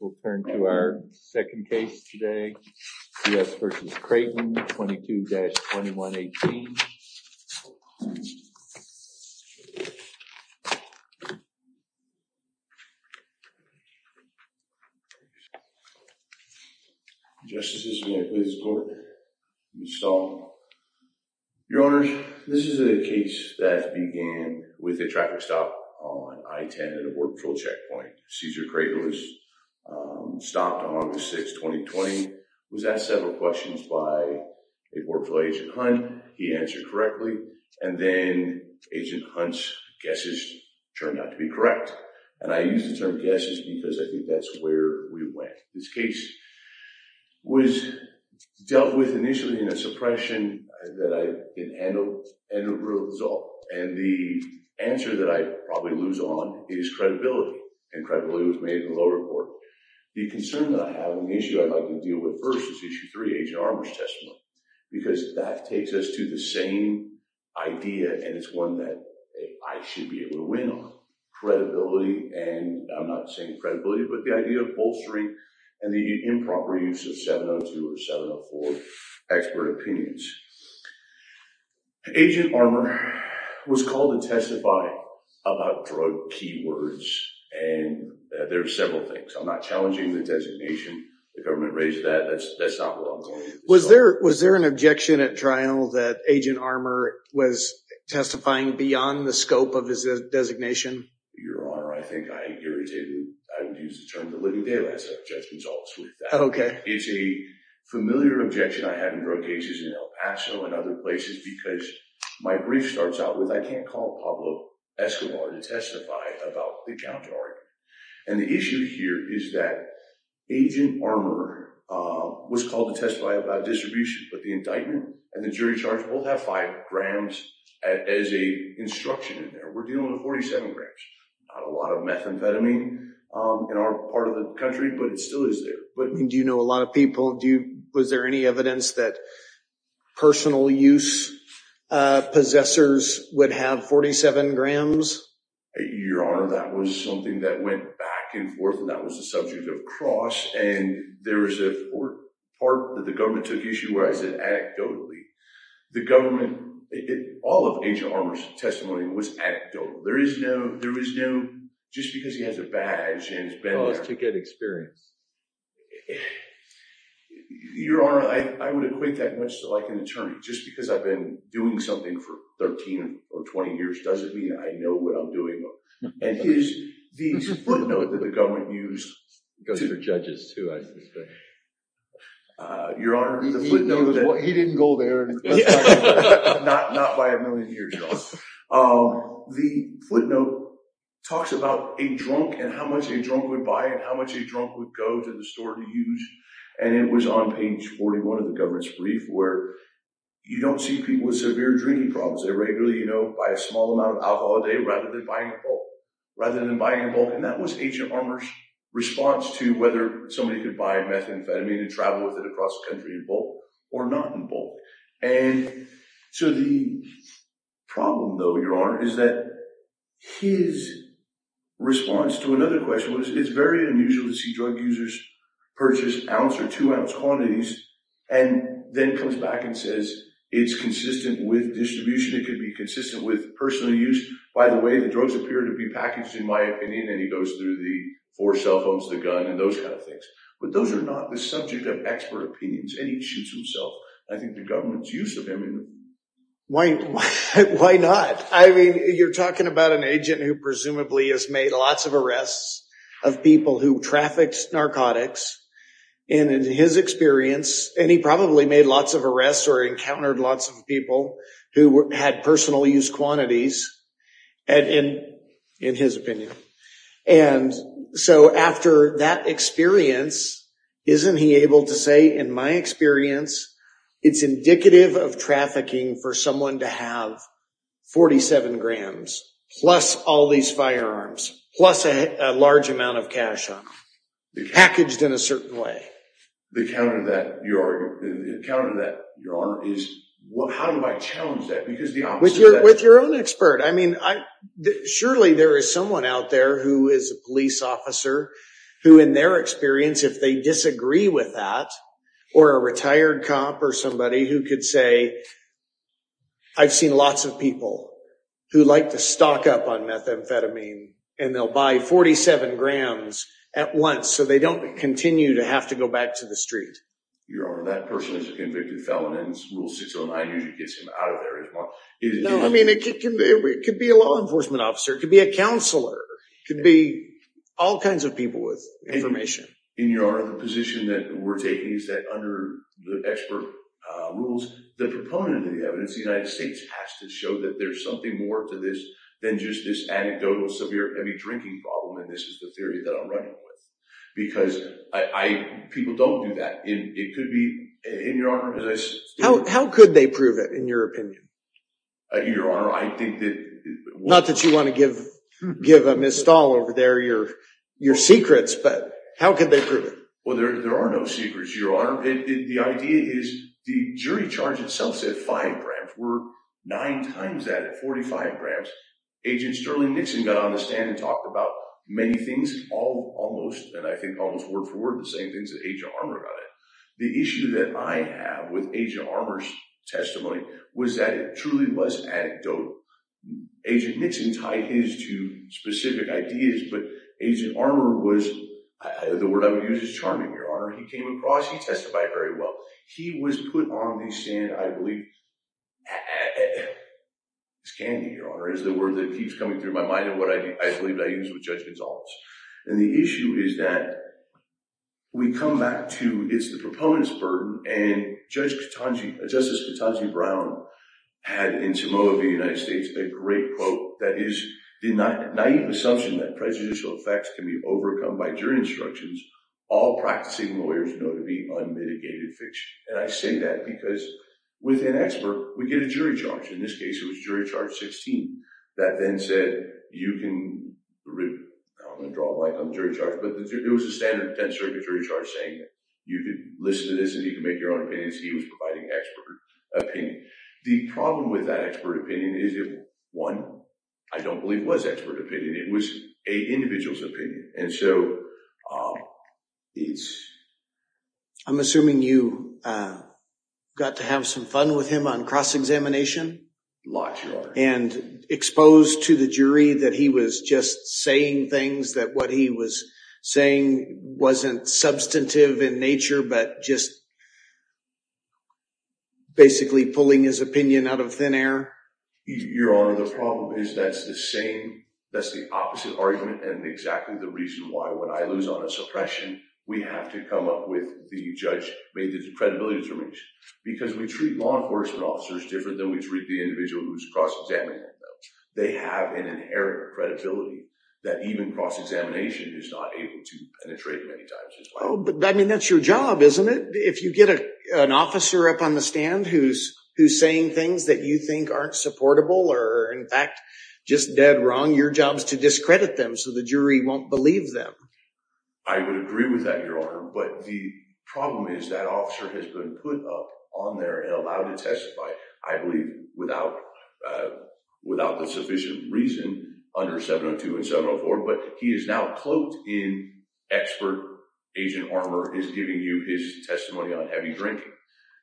We'll turn to our second case today, C.S. v. Crayton, 22-2118. Your Honor, this is a case that began with a traffic stop on I-10 at a board patrol checkpoint. C.S. Crayton was stopped on August 6, 2020, was asked several questions by a board patrol agent, Hunt. He answered correctly, and then Agent Hunt's guesses turned out to be correct, and I use the term guesses because I think that's where we went. This case was dealt with initially in a suppression that I didn't handle, and the result, and the answer that I probably lose on is credibility, and credibility was made in the lower court. The concern that I have with the issue I'd like to deal with first is Issue 3, Agent Armour was called to testify about drug keywords, and there are several things. I'm not challenging the designation. The government raised that. That's not what I'm calling it. Was there an objection at trial that Agent Armour was testifying beyond the scope of his designation? Your Honor, I think I irritated him. I would use the term the living daylights. I have judgements always with that. It's a familiar objection I have in drug cases in El Paso and other places because my brief starts out with, I can't call Pablo Escobar to testify about the counter-argument, and the issue here is that Agent Armour was called to testify about distribution, but the indictment and the jury charge both have 5 grams as a instruction in there. We're dealing with 47 grams. Not a lot of methamphetamine in our part of the country, but it still is there. Do you know a lot of people, was there any evidence that personal use possessors would have 47 grams? Your Honor, that was something that went back and forth, and that was a subject of cross, and there was a part that the government took issue where I said anecdotally. The government, all of Agent Armour's testimony was anecdotal. There is no, just because he has a badge and has been there. Oh, it's to get experience. Your Honor, I would equate that much to like an attorney. Just because I've been doing something for 13 or 20 years doesn't mean I know what I'm doing. And his, the footnote that the government used, because they're judges too, I should say. Your Honor, the footnote that... He didn't go there. Not by a million years, Your Honor. The footnote talks about a drunk and how much a drunk would buy and how much a drunk would go to the store to use, and it was on page 41 of the government's brief where you don't see people with severe drinking problems. They regularly, you know, buy a small amount of alcohol a day rather than buying in bulk. Rather than buying in bulk, and that was Agent Armour's response to whether somebody could buy methamphetamine and travel with it across the country in bulk or not in bulk. And so the problem though, Your Honor, is that his response to another question was it's very unusual to see drug users purchase ounce or two ounce quantities and then comes back and says it's consistent with distribution. It could be consistent with personal use. By the way, the drugs appear to be packaged in my opinion, and he goes through the four cell phones, the gun, and those kind of things. But those are not the subject of expert opinions, and he shoots himself. I think the government's use of him... Why not? I mean, you're talking about an agent who presumably has made lots of arrests of people who trafficked narcotics, and in his experience, and he probably made lots of arrests or encountered lots of people who had personal use quantities, in his opinion. And so after that experience, isn't he able to say, in my experience, it's indicative of trafficking for someone to have 47 grams, plus all these firearms, plus a large amount of cash on them, packaged in a certain way? The counter to that, Your Honor, is how do I challenge that? Because the opposite of that... With your own expert. I mean, surely there is someone out there who is a police officer who in their experience, if they disagree with that, or a retired cop or somebody who could say, I've seen lots of people who like to stock up on methamphetamine, and they'll buy 47 grams at once so they don't continue to have to go back to the street. Your Honor, that person is a convicted felon, and Rule 609 usually gets him out of there as well. No, I mean, it could be a law enforcement officer, it could be a counselor, it could be all kinds of people with information. In your honor, the position that we're taking is that under the expert rules, the proponent of the evidence, the United States, has to show that there's something more to this than just this anecdotal severe heavy drinking problem, and this is the theory that I'm running with. Because people don't do that. It could be, in your honor... How could they prove it, in your opinion? In your honor, I think that... Not that you want to give Ms. Stahl over there your secrets, but how could they prove it? Well, there are no secrets, your honor. The idea is the jury charge itself said five grams. We're nine times that at 45 grams. Agent Sterling Nixon got on the stand and talked about many things, almost, and I think almost word for word, the same things that Agent Armour got at. The issue that I have with Agent Armour's testimony was that it truly was anecdotal. Agent Nixon tied his to specific ideas, but Agent Armour was... The word I would use is charming, your honor. He came across, he testified very well. He was put on the stand, I believe... It's candy, your honor, is the word that keeps coming through my mind and what I believe I used with Judge Gonzales. And the issue is that we come back to, it's the proponent's burden, and Justice Katonji Brown had, in Timoho v. United States, a great quote that is, the naive assumption that prejudicial effects can be overcome by jury instructions, all practicing lawyers know to be unmitigated fiction. And I say that because with an expert, we get a jury charge. In this case, it was jury charge 16 that then said, you can... I don't want to draw a line on the jury charge, but it was a standard 10th Circuit jury charge saying that. You can listen to this and you can make your own opinions. He was providing expert opinion. The problem with that expert opinion is it, one, I don't believe was expert opinion. It was an individual's opinion. And so, it's... I'm assuming you got to have some fun with him on cross-examination? A lot, your honor. And exposed to the jury that he was just saying things, that what he was saying wasn't substantive in nature, but just basically pulling his opinion out of thin air? Your honor, the problem is that's the same, that's the opposite argument and exactly the reason why when I lose on a suppression, we have to come up with the judge-made credibility determination. Because we treat law enforcement officers different than we treat the individual who's cross-examining them. They have an inherent credibility that even cross-examination is not able to penetrate many times as well. But, I mean, that's your job, isn't it? If you get an officer up on the stand who's saying things that you think aren't supportable or, in fact, just dead wrong, your job is to discredit them so the jury won't believe them. I would agree with that, your honor. But the problem is that officer has been put up on there and allowed to testify, I believe, without the sufficient reason under 702 and 704, but he is now cloaked in expert agent armor is giving you his testimony on heavy drinking.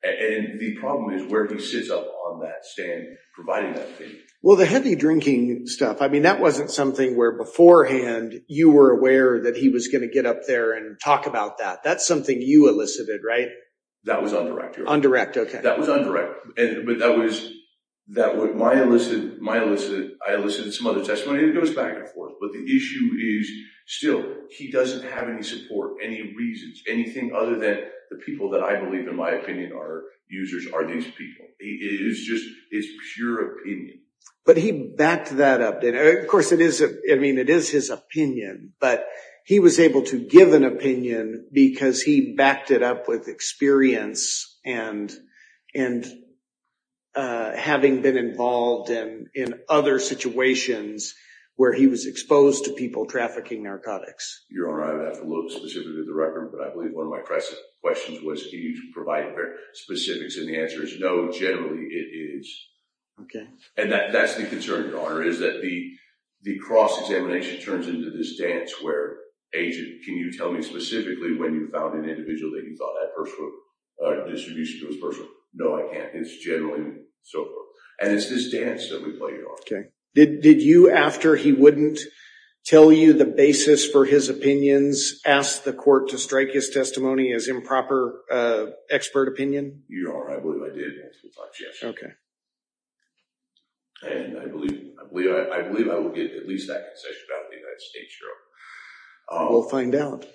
And the problem is where he sits up on that stand providing that opinion. Well, the heavy drinking stuff, I mean, that wasn't something where beforehand you were aware that he was going to get up there and talk about that. That's something you elicited, right? That was undirect, your honor. Undirect, okay. That was undirect, but that was my elicit. I elicited some other testimony. It goes back and forth, but the issue is still he doesn't have any support, any reasons, anything other than the people that I believe, in my opinion, are users are these people. It is just pure opinion. But he backed that up. Of course, it is his opinion, but he was able to give an opinion because he backed it up with experience and having been involved in other situations where he was exposed to people trafficking narcotics. Your honor, I would have to look specifically at the record, but I believe one of my questions was can you provide specifics, and the answer is no, generally it is. And that's the concern, your honor, is that the cross-examination turns into this dance where agent, can you tell me specifically when you found an individual that you thought had personal distribution to this person? No, I can't. It is generally so. And it is this dance that we play, your honor. Did you, after he wouldn't tell you the basis for his opinions, ask the court to strike his testimony as improper expert opinion? Your honor, I believe I did, yes. Okay. And I believe I will get at least that concession without the United States, your honor. We'll find out.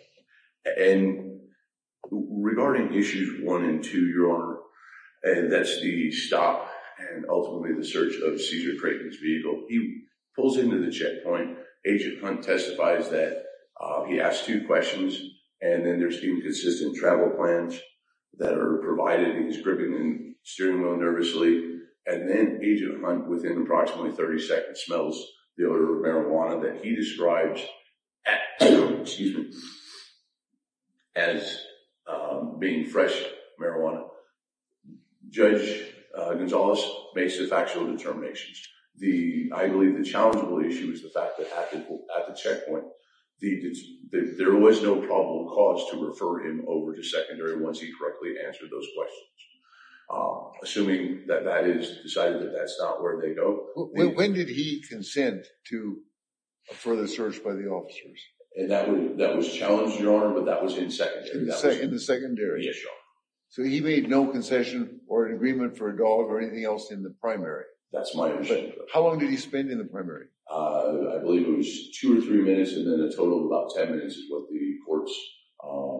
And regarding issues one and two, your honor, and that's the stop and ultimately the search of seizure-trafficked vehicle, he pulls into the checkpoint. Agent Hunt testifies that he asked two questions, and then there's the inconsistent travel plans that are provided. He's gripping the steering wheel nervously, and then Agent Hunt, within approximately 30 seconds, smells the odor of marijuana that he describes as being fresh marijuana. Judge Gonzales makes the factual determinations. I believe the challengeable issue is the fact that at the checkpoint, there was no probable cause to refer him over to secondary once he correctly answered those questions. Assuming that that is decided that that's not where they go. When did he consent to a further search by the officers? That was challenged, your honor, but that was in secondary. In the secondary? Yes, your honor. So he made no concession or an agreement for a dog or anything else in the primary? That's my understanding of it. How long did he spend in the primary? I believe it was two or three minutes, and then a total of about 10 minutes is what the courts.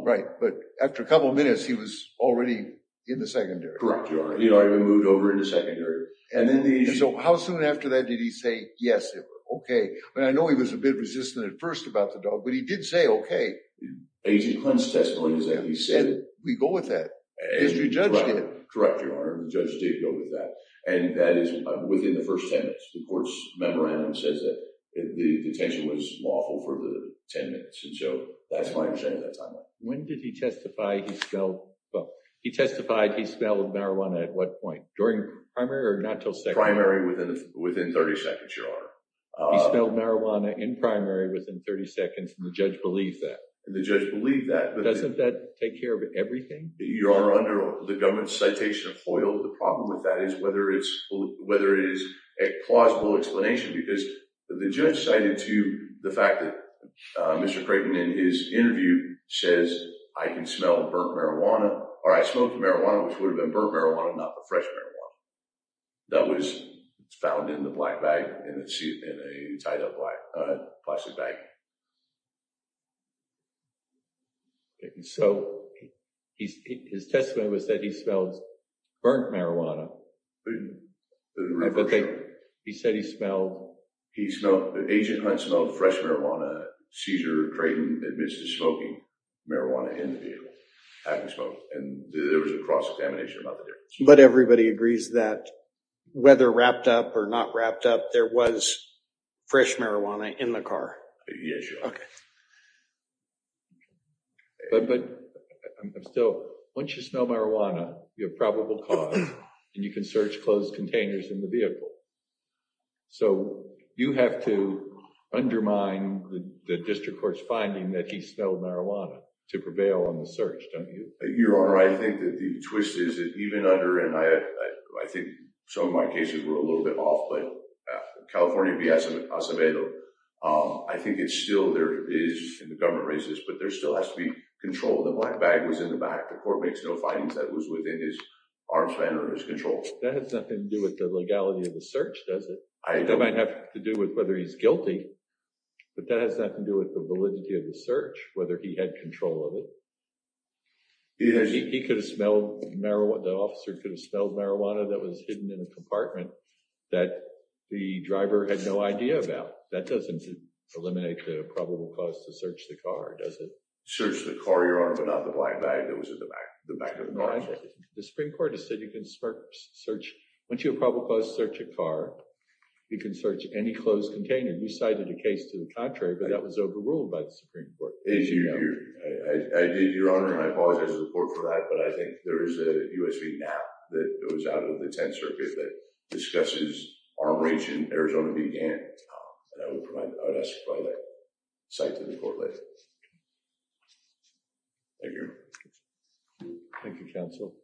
Right, but after a couple of minutes, he was already in the secondary. Correct, your honor. He already moved over into secondary. So how soon after that did he say, yes, okay. I know he was a bit resistant at first about the dog, but he did say, okay. Agent Clint's testimony, he said. We go with that. As your judge did. Correct, your honor. The judge did go with that, and that is within the first 10 minutes. The court's memorandum says that the detention was lawful for the 10 minutes, and so that's my understanding at that time. When did he testify he smelled, well, he testified he smelled marijuana at what point? During primary or not until secondary? Primary within 30 seconds, your honor. He smelled marijuana in primary within 30 seconds, and the judge believed that. And the judge believed that. Doesn't that take care of everything? Your honor, under the government's citation of Hoyle, the problem with that is whether it is a plausible explanation, because the judge cited to the fact that Mr. Creighton in his interview says I can smell burnt marijuana, or I smoked marijuana, which would have been burnt marijuana, not the fresh marijuana. That was found in the black bag, in a tied up plastic bag. So his testimony was that he smelled burnt marijuana. He said he smelled. Agent Hunt smelled fresh marijuana. Cesar Creighton admits to smoking marijuana in the vehicle. And there was a cross-examination about that. But everybody agrees that whether wrapped up or not wrapped up, there was fresh marijuana in the car? Yes, your honor. Okay. But still, once you smell marijuana, you have probable cause, and you can search closed containers in the vehicle. So you have to undermine the district court's finding that he smelled marijuana to prevail on the search, don't you? Your honor, I think the twist is that even under, and I think some of my cases were a little bit off, but California v. Acevedo, I think it's still there is, and the government raised this, but there still has to be control. The black bag was in the back. The court makes no findings that it was within his arms span or his control. That has nothing to do with the legality of the search, does it? That might have to do with whether he's guilty, but that has nothing to do with the validity of the search, whether he had control of it. He could have smelled marijuana. The officer could have smelled marijuana that was hidden in a compartment that the driver had no idea about. That doesn't eliminate the probable cause to search the car, does it? Search the car, your honor, but not the black bag that was in the back. The Supreme Court has said you can search. Once you have probable cause, search a car. You can search any closed container. We cited a case to the contrary, but that was overruled by the Supreme Court. I did, your honor, and I apologize for that, but I think there is a U.S. v. Knapp that goes out of the Tenth Circuit that discusses arm range in Arizona v. Gannett. I would ask for that cite to the court later. Thank you, your honor. Thank you, counsel.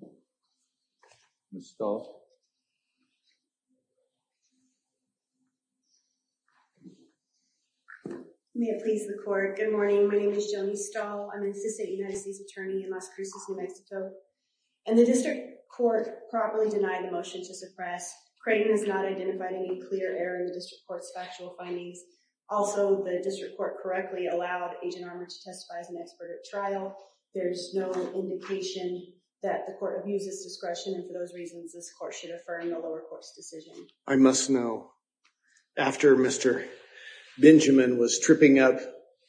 Thank you. Ms. Stahl. May it please the court. Good morning. My name is Joni Stahl. I'm an assistant United States attorney in Las Cruces, New Mexico, and the district court properly denied the motion to suppress. Creighton has not identified any clear error in the district court's factual findings. Also, the district court correctly allowed Agent Armour to testify as an expert at trial. There's no indication that the court views this discretion, and for those reasons, this court should refer in the lower court's decision. I must know. After Mr. Benjamin was tripping up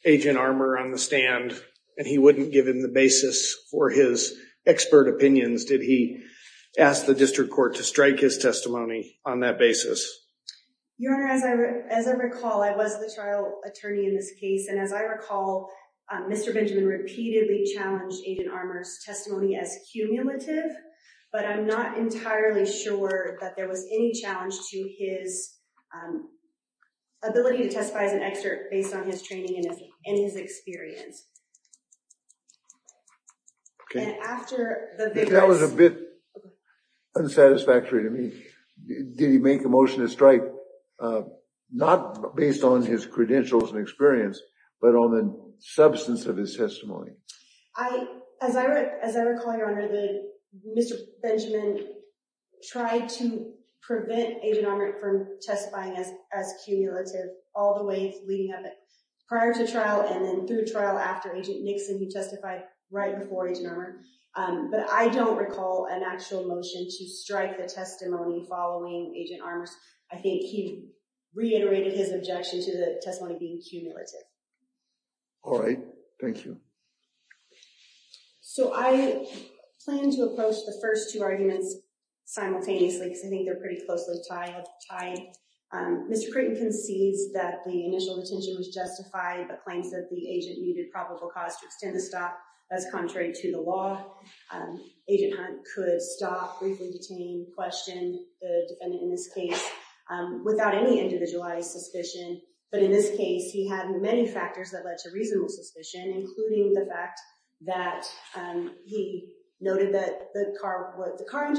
Agent Armour on the stand and he wouldn't give him the basis for his expert opinions, did he ask the district court to strike his testimony on that basis? Your honor, as I recall, I was the trial attorney in this case, and as I recall, Mr. Benjamin repeatedly challenged Agent Armour's testimony as cumulative, but I'm not entirely sure that there was any challenge to his ability to testify as an expert based on his training and his experience. That was a bit unsatisfactory to me. Did he make a motion to strike? Not based on his credentials and experience, but on the substance of his testimony. As I recall, your honor, Mr. Benjamin tried to prevent Agent Armour from testifying as cumulative all the way leading up prior to trial and then through trial after Agent Nixon, who testified right before Agent Armour, but I don't recall an actual motion to strike the testimony following Agent Armour's. I think he reiterated his objection to the testimony being cumulative. All right. Thank you. So I plan to approach the first two arguments simultaneously because I think they're pretty closely tied. Mr. Creighton concedes that the initial detention was justified, but claims that the agent needed probable cause to extend the stop. That's contrary to the law. Agent Hunt could stop, briefly detain, question the defendant in this case without any individualized suspicion. But in this case, he had many factors that led to reasonable suspicion, including the fact that he noted that the car was the car.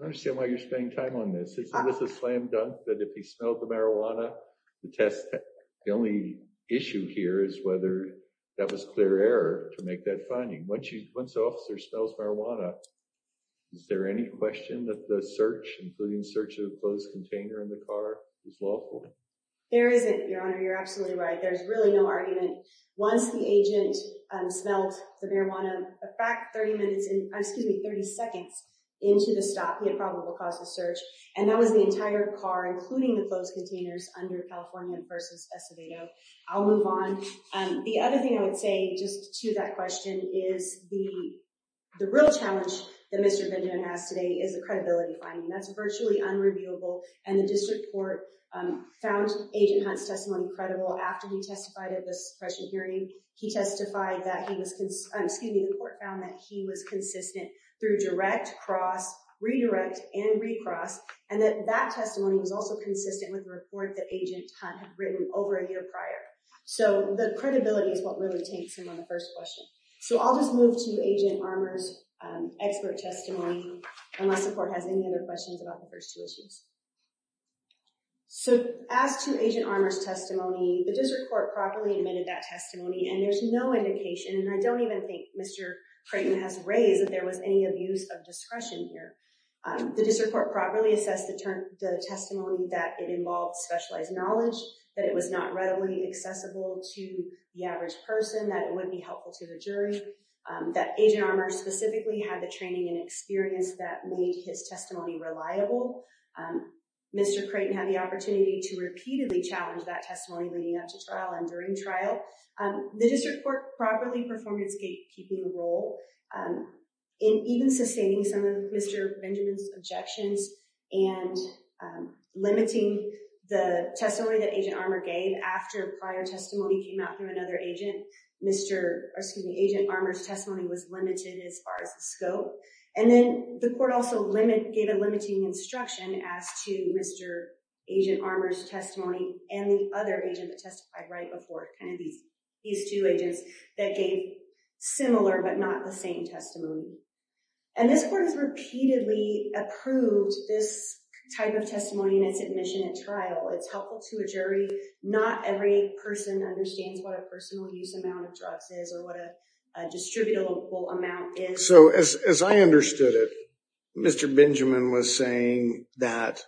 I understand why you're spending time on this. It's a slam dunk that if he smelled the marijuana to test, the only issue here is whether that was clear error to make that finding. Once the officer smells marijuana, is there any question that the search, including the search of the closed container in the car, is lawful? There isn't, Your Honor. You're absolutely right. There's really no argument. Once the agent smelled the marijuana, a fact 30 minutes, excuse me, 30 seconds into the stop, he had probable cause to search. And that was the entire car, including the closed containers under California versus Estavito. I'll move on. The other thing I would say just to that question is the real challenge that Mr. Benjamin asked today is the credibility finding. That's virtually unreviewable, and the district court found Agent Hunt's testimony credible. After he testified at this question hearing, he testified that he was, excuse me, the court found that he was consistent through direct, cross, redirect, and recross, and that that testimony was also consistent with the report that Agent Hunt had written over a year prior. So the credibility is what really takes him on the first question. So I'll just move to Agent Armour's expert testimony, unless the court has any other questions about the first two issues. So as to Agent Armour's testimony, the district court properly admitted that testimony, and there's no indication, and I don't even think Mr. Creighton has raised that there was any abuse of discretion here. The district court properly assessed the testimony that it involved specialized knowledge, that it was not readily accessible to the average person, that it would be helpful to the jury, that Agent Armour specifically had the training and experience that made his testimony reliable. Mr. Creighton had the opportunity to repeatedly challenge that testimony leading up to trial and during trial. The district court properly performed its gatekeeping role in even sustaining some of Mr. Benjamin's objections and limiting the testimony that Agent Armour gave after prior testimony came out from another agent. Agent Armour's testimony was limited as far as the scope. And then the court also gave a limiting instruction as to Mr. Agent Armour's testimony and the other agent that testified right before, these two agents that gave similar but not the same testimony. And this court has repeatedly approved this type of testimony in its admission at trial. It's helpful to a jury. Not every person understands what a personal use amount of drugs is or what a distributable amount is. So as I understood it, Mr. Benjamin was saying that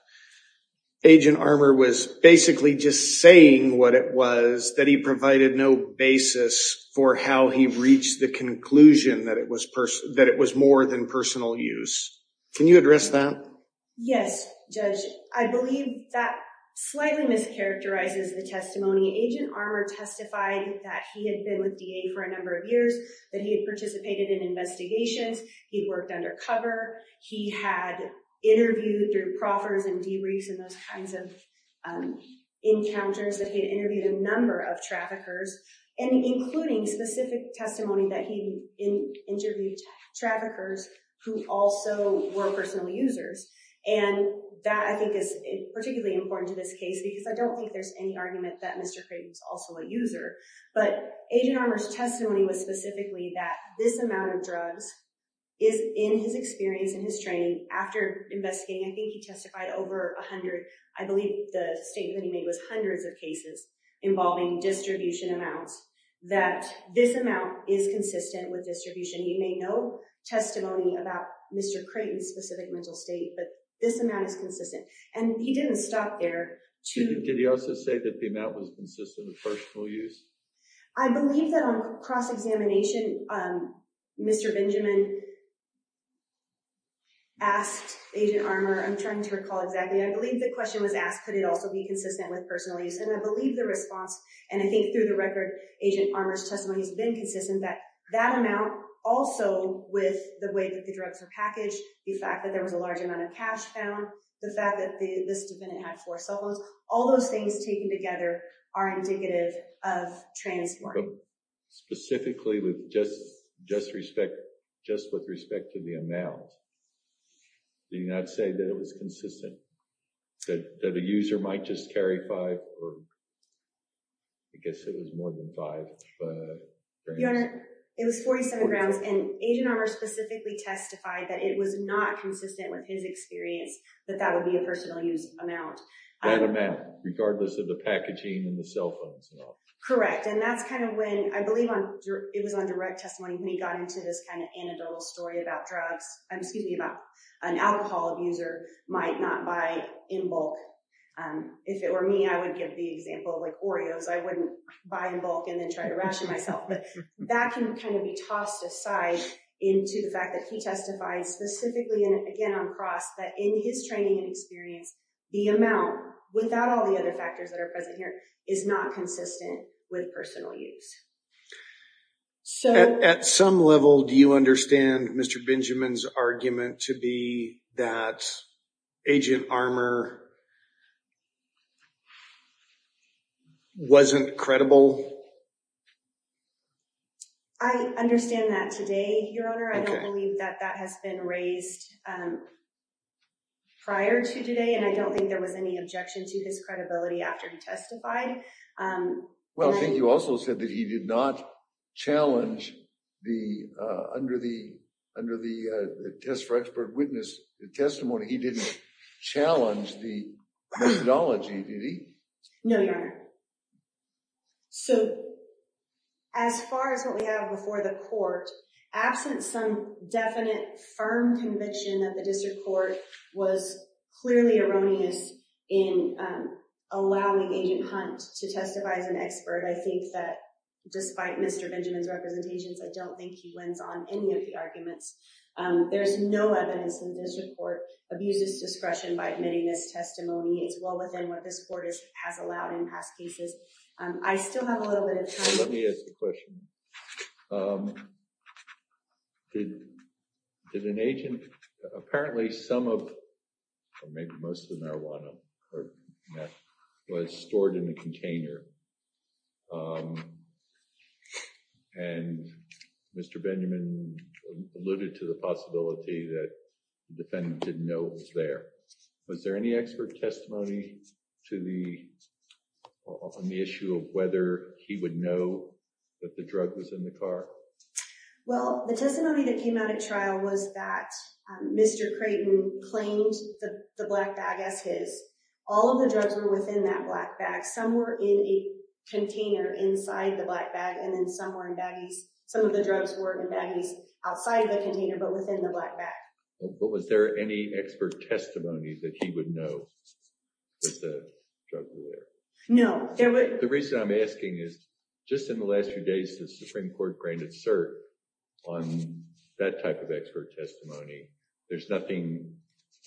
Agent Armour was basically just saying what it was, that he provided no basis for how he reached the conclusion that it was more than personal use. Can you address that? Yes, Judge. I believe that slightly mischaracterizes the testimony. Agent Armour testified that he had been with DA for a number of years, that he had participated in investigations. He worked undercover. He had interviewed through proffers and debriefs and those kinds of encounters, that he had interviewed a number of traffickers and including specific testimony that he interviewed traffickers who also were personal users. And that I think is particularly important to this case because I don't think there's any argument that Mr. Creighton's also a user. But Agent Armour's testimony was specifically that this amount of drugs is in his experience and his training. After investigating, I think he testified over a hundred, I believe the statement he made was hundreds of cases involving distribution amounts, that this amount is consistent with distribution. He made no testimony about Mr. Creighton's specific mental state, but this amount is consistent. And he didn't stop there. Did he also say that the amount was consistent with personal use? I believe that on cross-examination, Mr. Benjamin asked Agent Armour, I'm trying to recall exactly, I believe the question was asked, could it also be consistent with personal use? And I believe the response, and I think through the record, Agent Armour's testimony has been consistent that that amount also with the way that the drugs were packaged, the fact that there was a large amount of cash found, the fact that this defendant had four cell phones, all those things taken together are indicative of transfer. Specifically with just with respect to the amount, did he not say that it was consistent? That a user might just carry five or, I guess it was more than five grams. Your Honor, it was 47 grams. And Agent Armour specifically testified that it was not consistent with his experience, that that would be a personal use amount. That amount, regardless of the packaging and the cell phones and all. Correct. And that's kind of when, I believe it was on direct testimony, when he got into this kind of anecdotal story about drugs, excuse me, about an alcohol abuser might not buy in bulk. If it were me, I would give the example of like Oreos. I wouldn't buy in bulk and then try to ration myself. But that can kind of be tossed aside into the fact that he testified specifically, and again, on cross, that in his training and experience, the amount without all the other factors that are present here is not consistent with personal use. At some level, do you understand Mr. Benjamin's argument to be that Agent Armour wasn't credible? I understand that today, Your Honor. I don't believe that that has been raised prior to today. And I don't think there was any objection to his credibility after he testified. Well, I think you also said that he did not challenge the, under the test for expert witness testimony, he didn't challenge the methodology, did he? No, Your Honor. So as far as what we have before the court, absent some definite firm conviction of the district court was clearly erroneous in allowing Agent Hunt to testify as an expert. I think that despite Mr. Benjamin's representations, I don't think he wins on any of the arguments. There's no evidence in this report abuses discretion by admitting this testimony as well within what this court has allowed in past cases. I still have a little bit of time. Let me ask a question. Did an agent, apparently some of, or maybe most of the marijuana, was stored in a container. And Mr. Benjamin alluded to the possibility that the defendant didn't know it was there. Was there any expert testimony to the, on the issue of whether he would know that the drug was in the car? Well, the testimony that came out at trial was that Mr. Creighton claimed the black bag as his, all of the drugs were within that black bag. Some were in a container inside the black bag and then some were in baggies. Some of the drugs were in baggies outside of the container, but within the black bag. But was there any expert testimony that he would know that the drug was there? No. The reason I'm asking is just in the last few days, the Supreme court granted cert on that type of expert testimony. There's nothing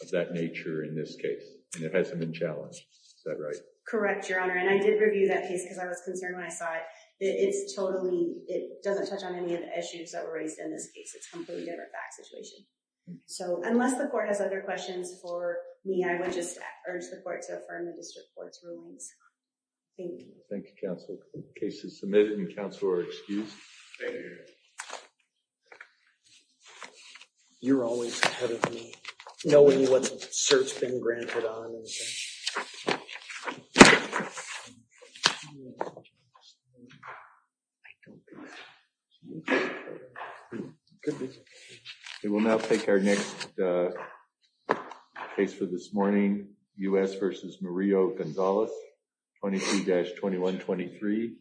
of that nature in this case. And it hasn't been challenged. Is that right? Correct. Your honor. And I did review that case because I was concerned when I saw it, it's totally, it doesn't touch on any of the issues that were raised in this case. It's completely different back situation. So unless the court has other questions for me, I would just urge the court to affirm the district court's rulings. Thank you. Counsel cases submitted in council are excused. Thank you. You're always ahead of me. I don't know what's been granted on. We'll now take our next case for this morning. Us versus Mario Gonzalez. 22 dash 21, 23.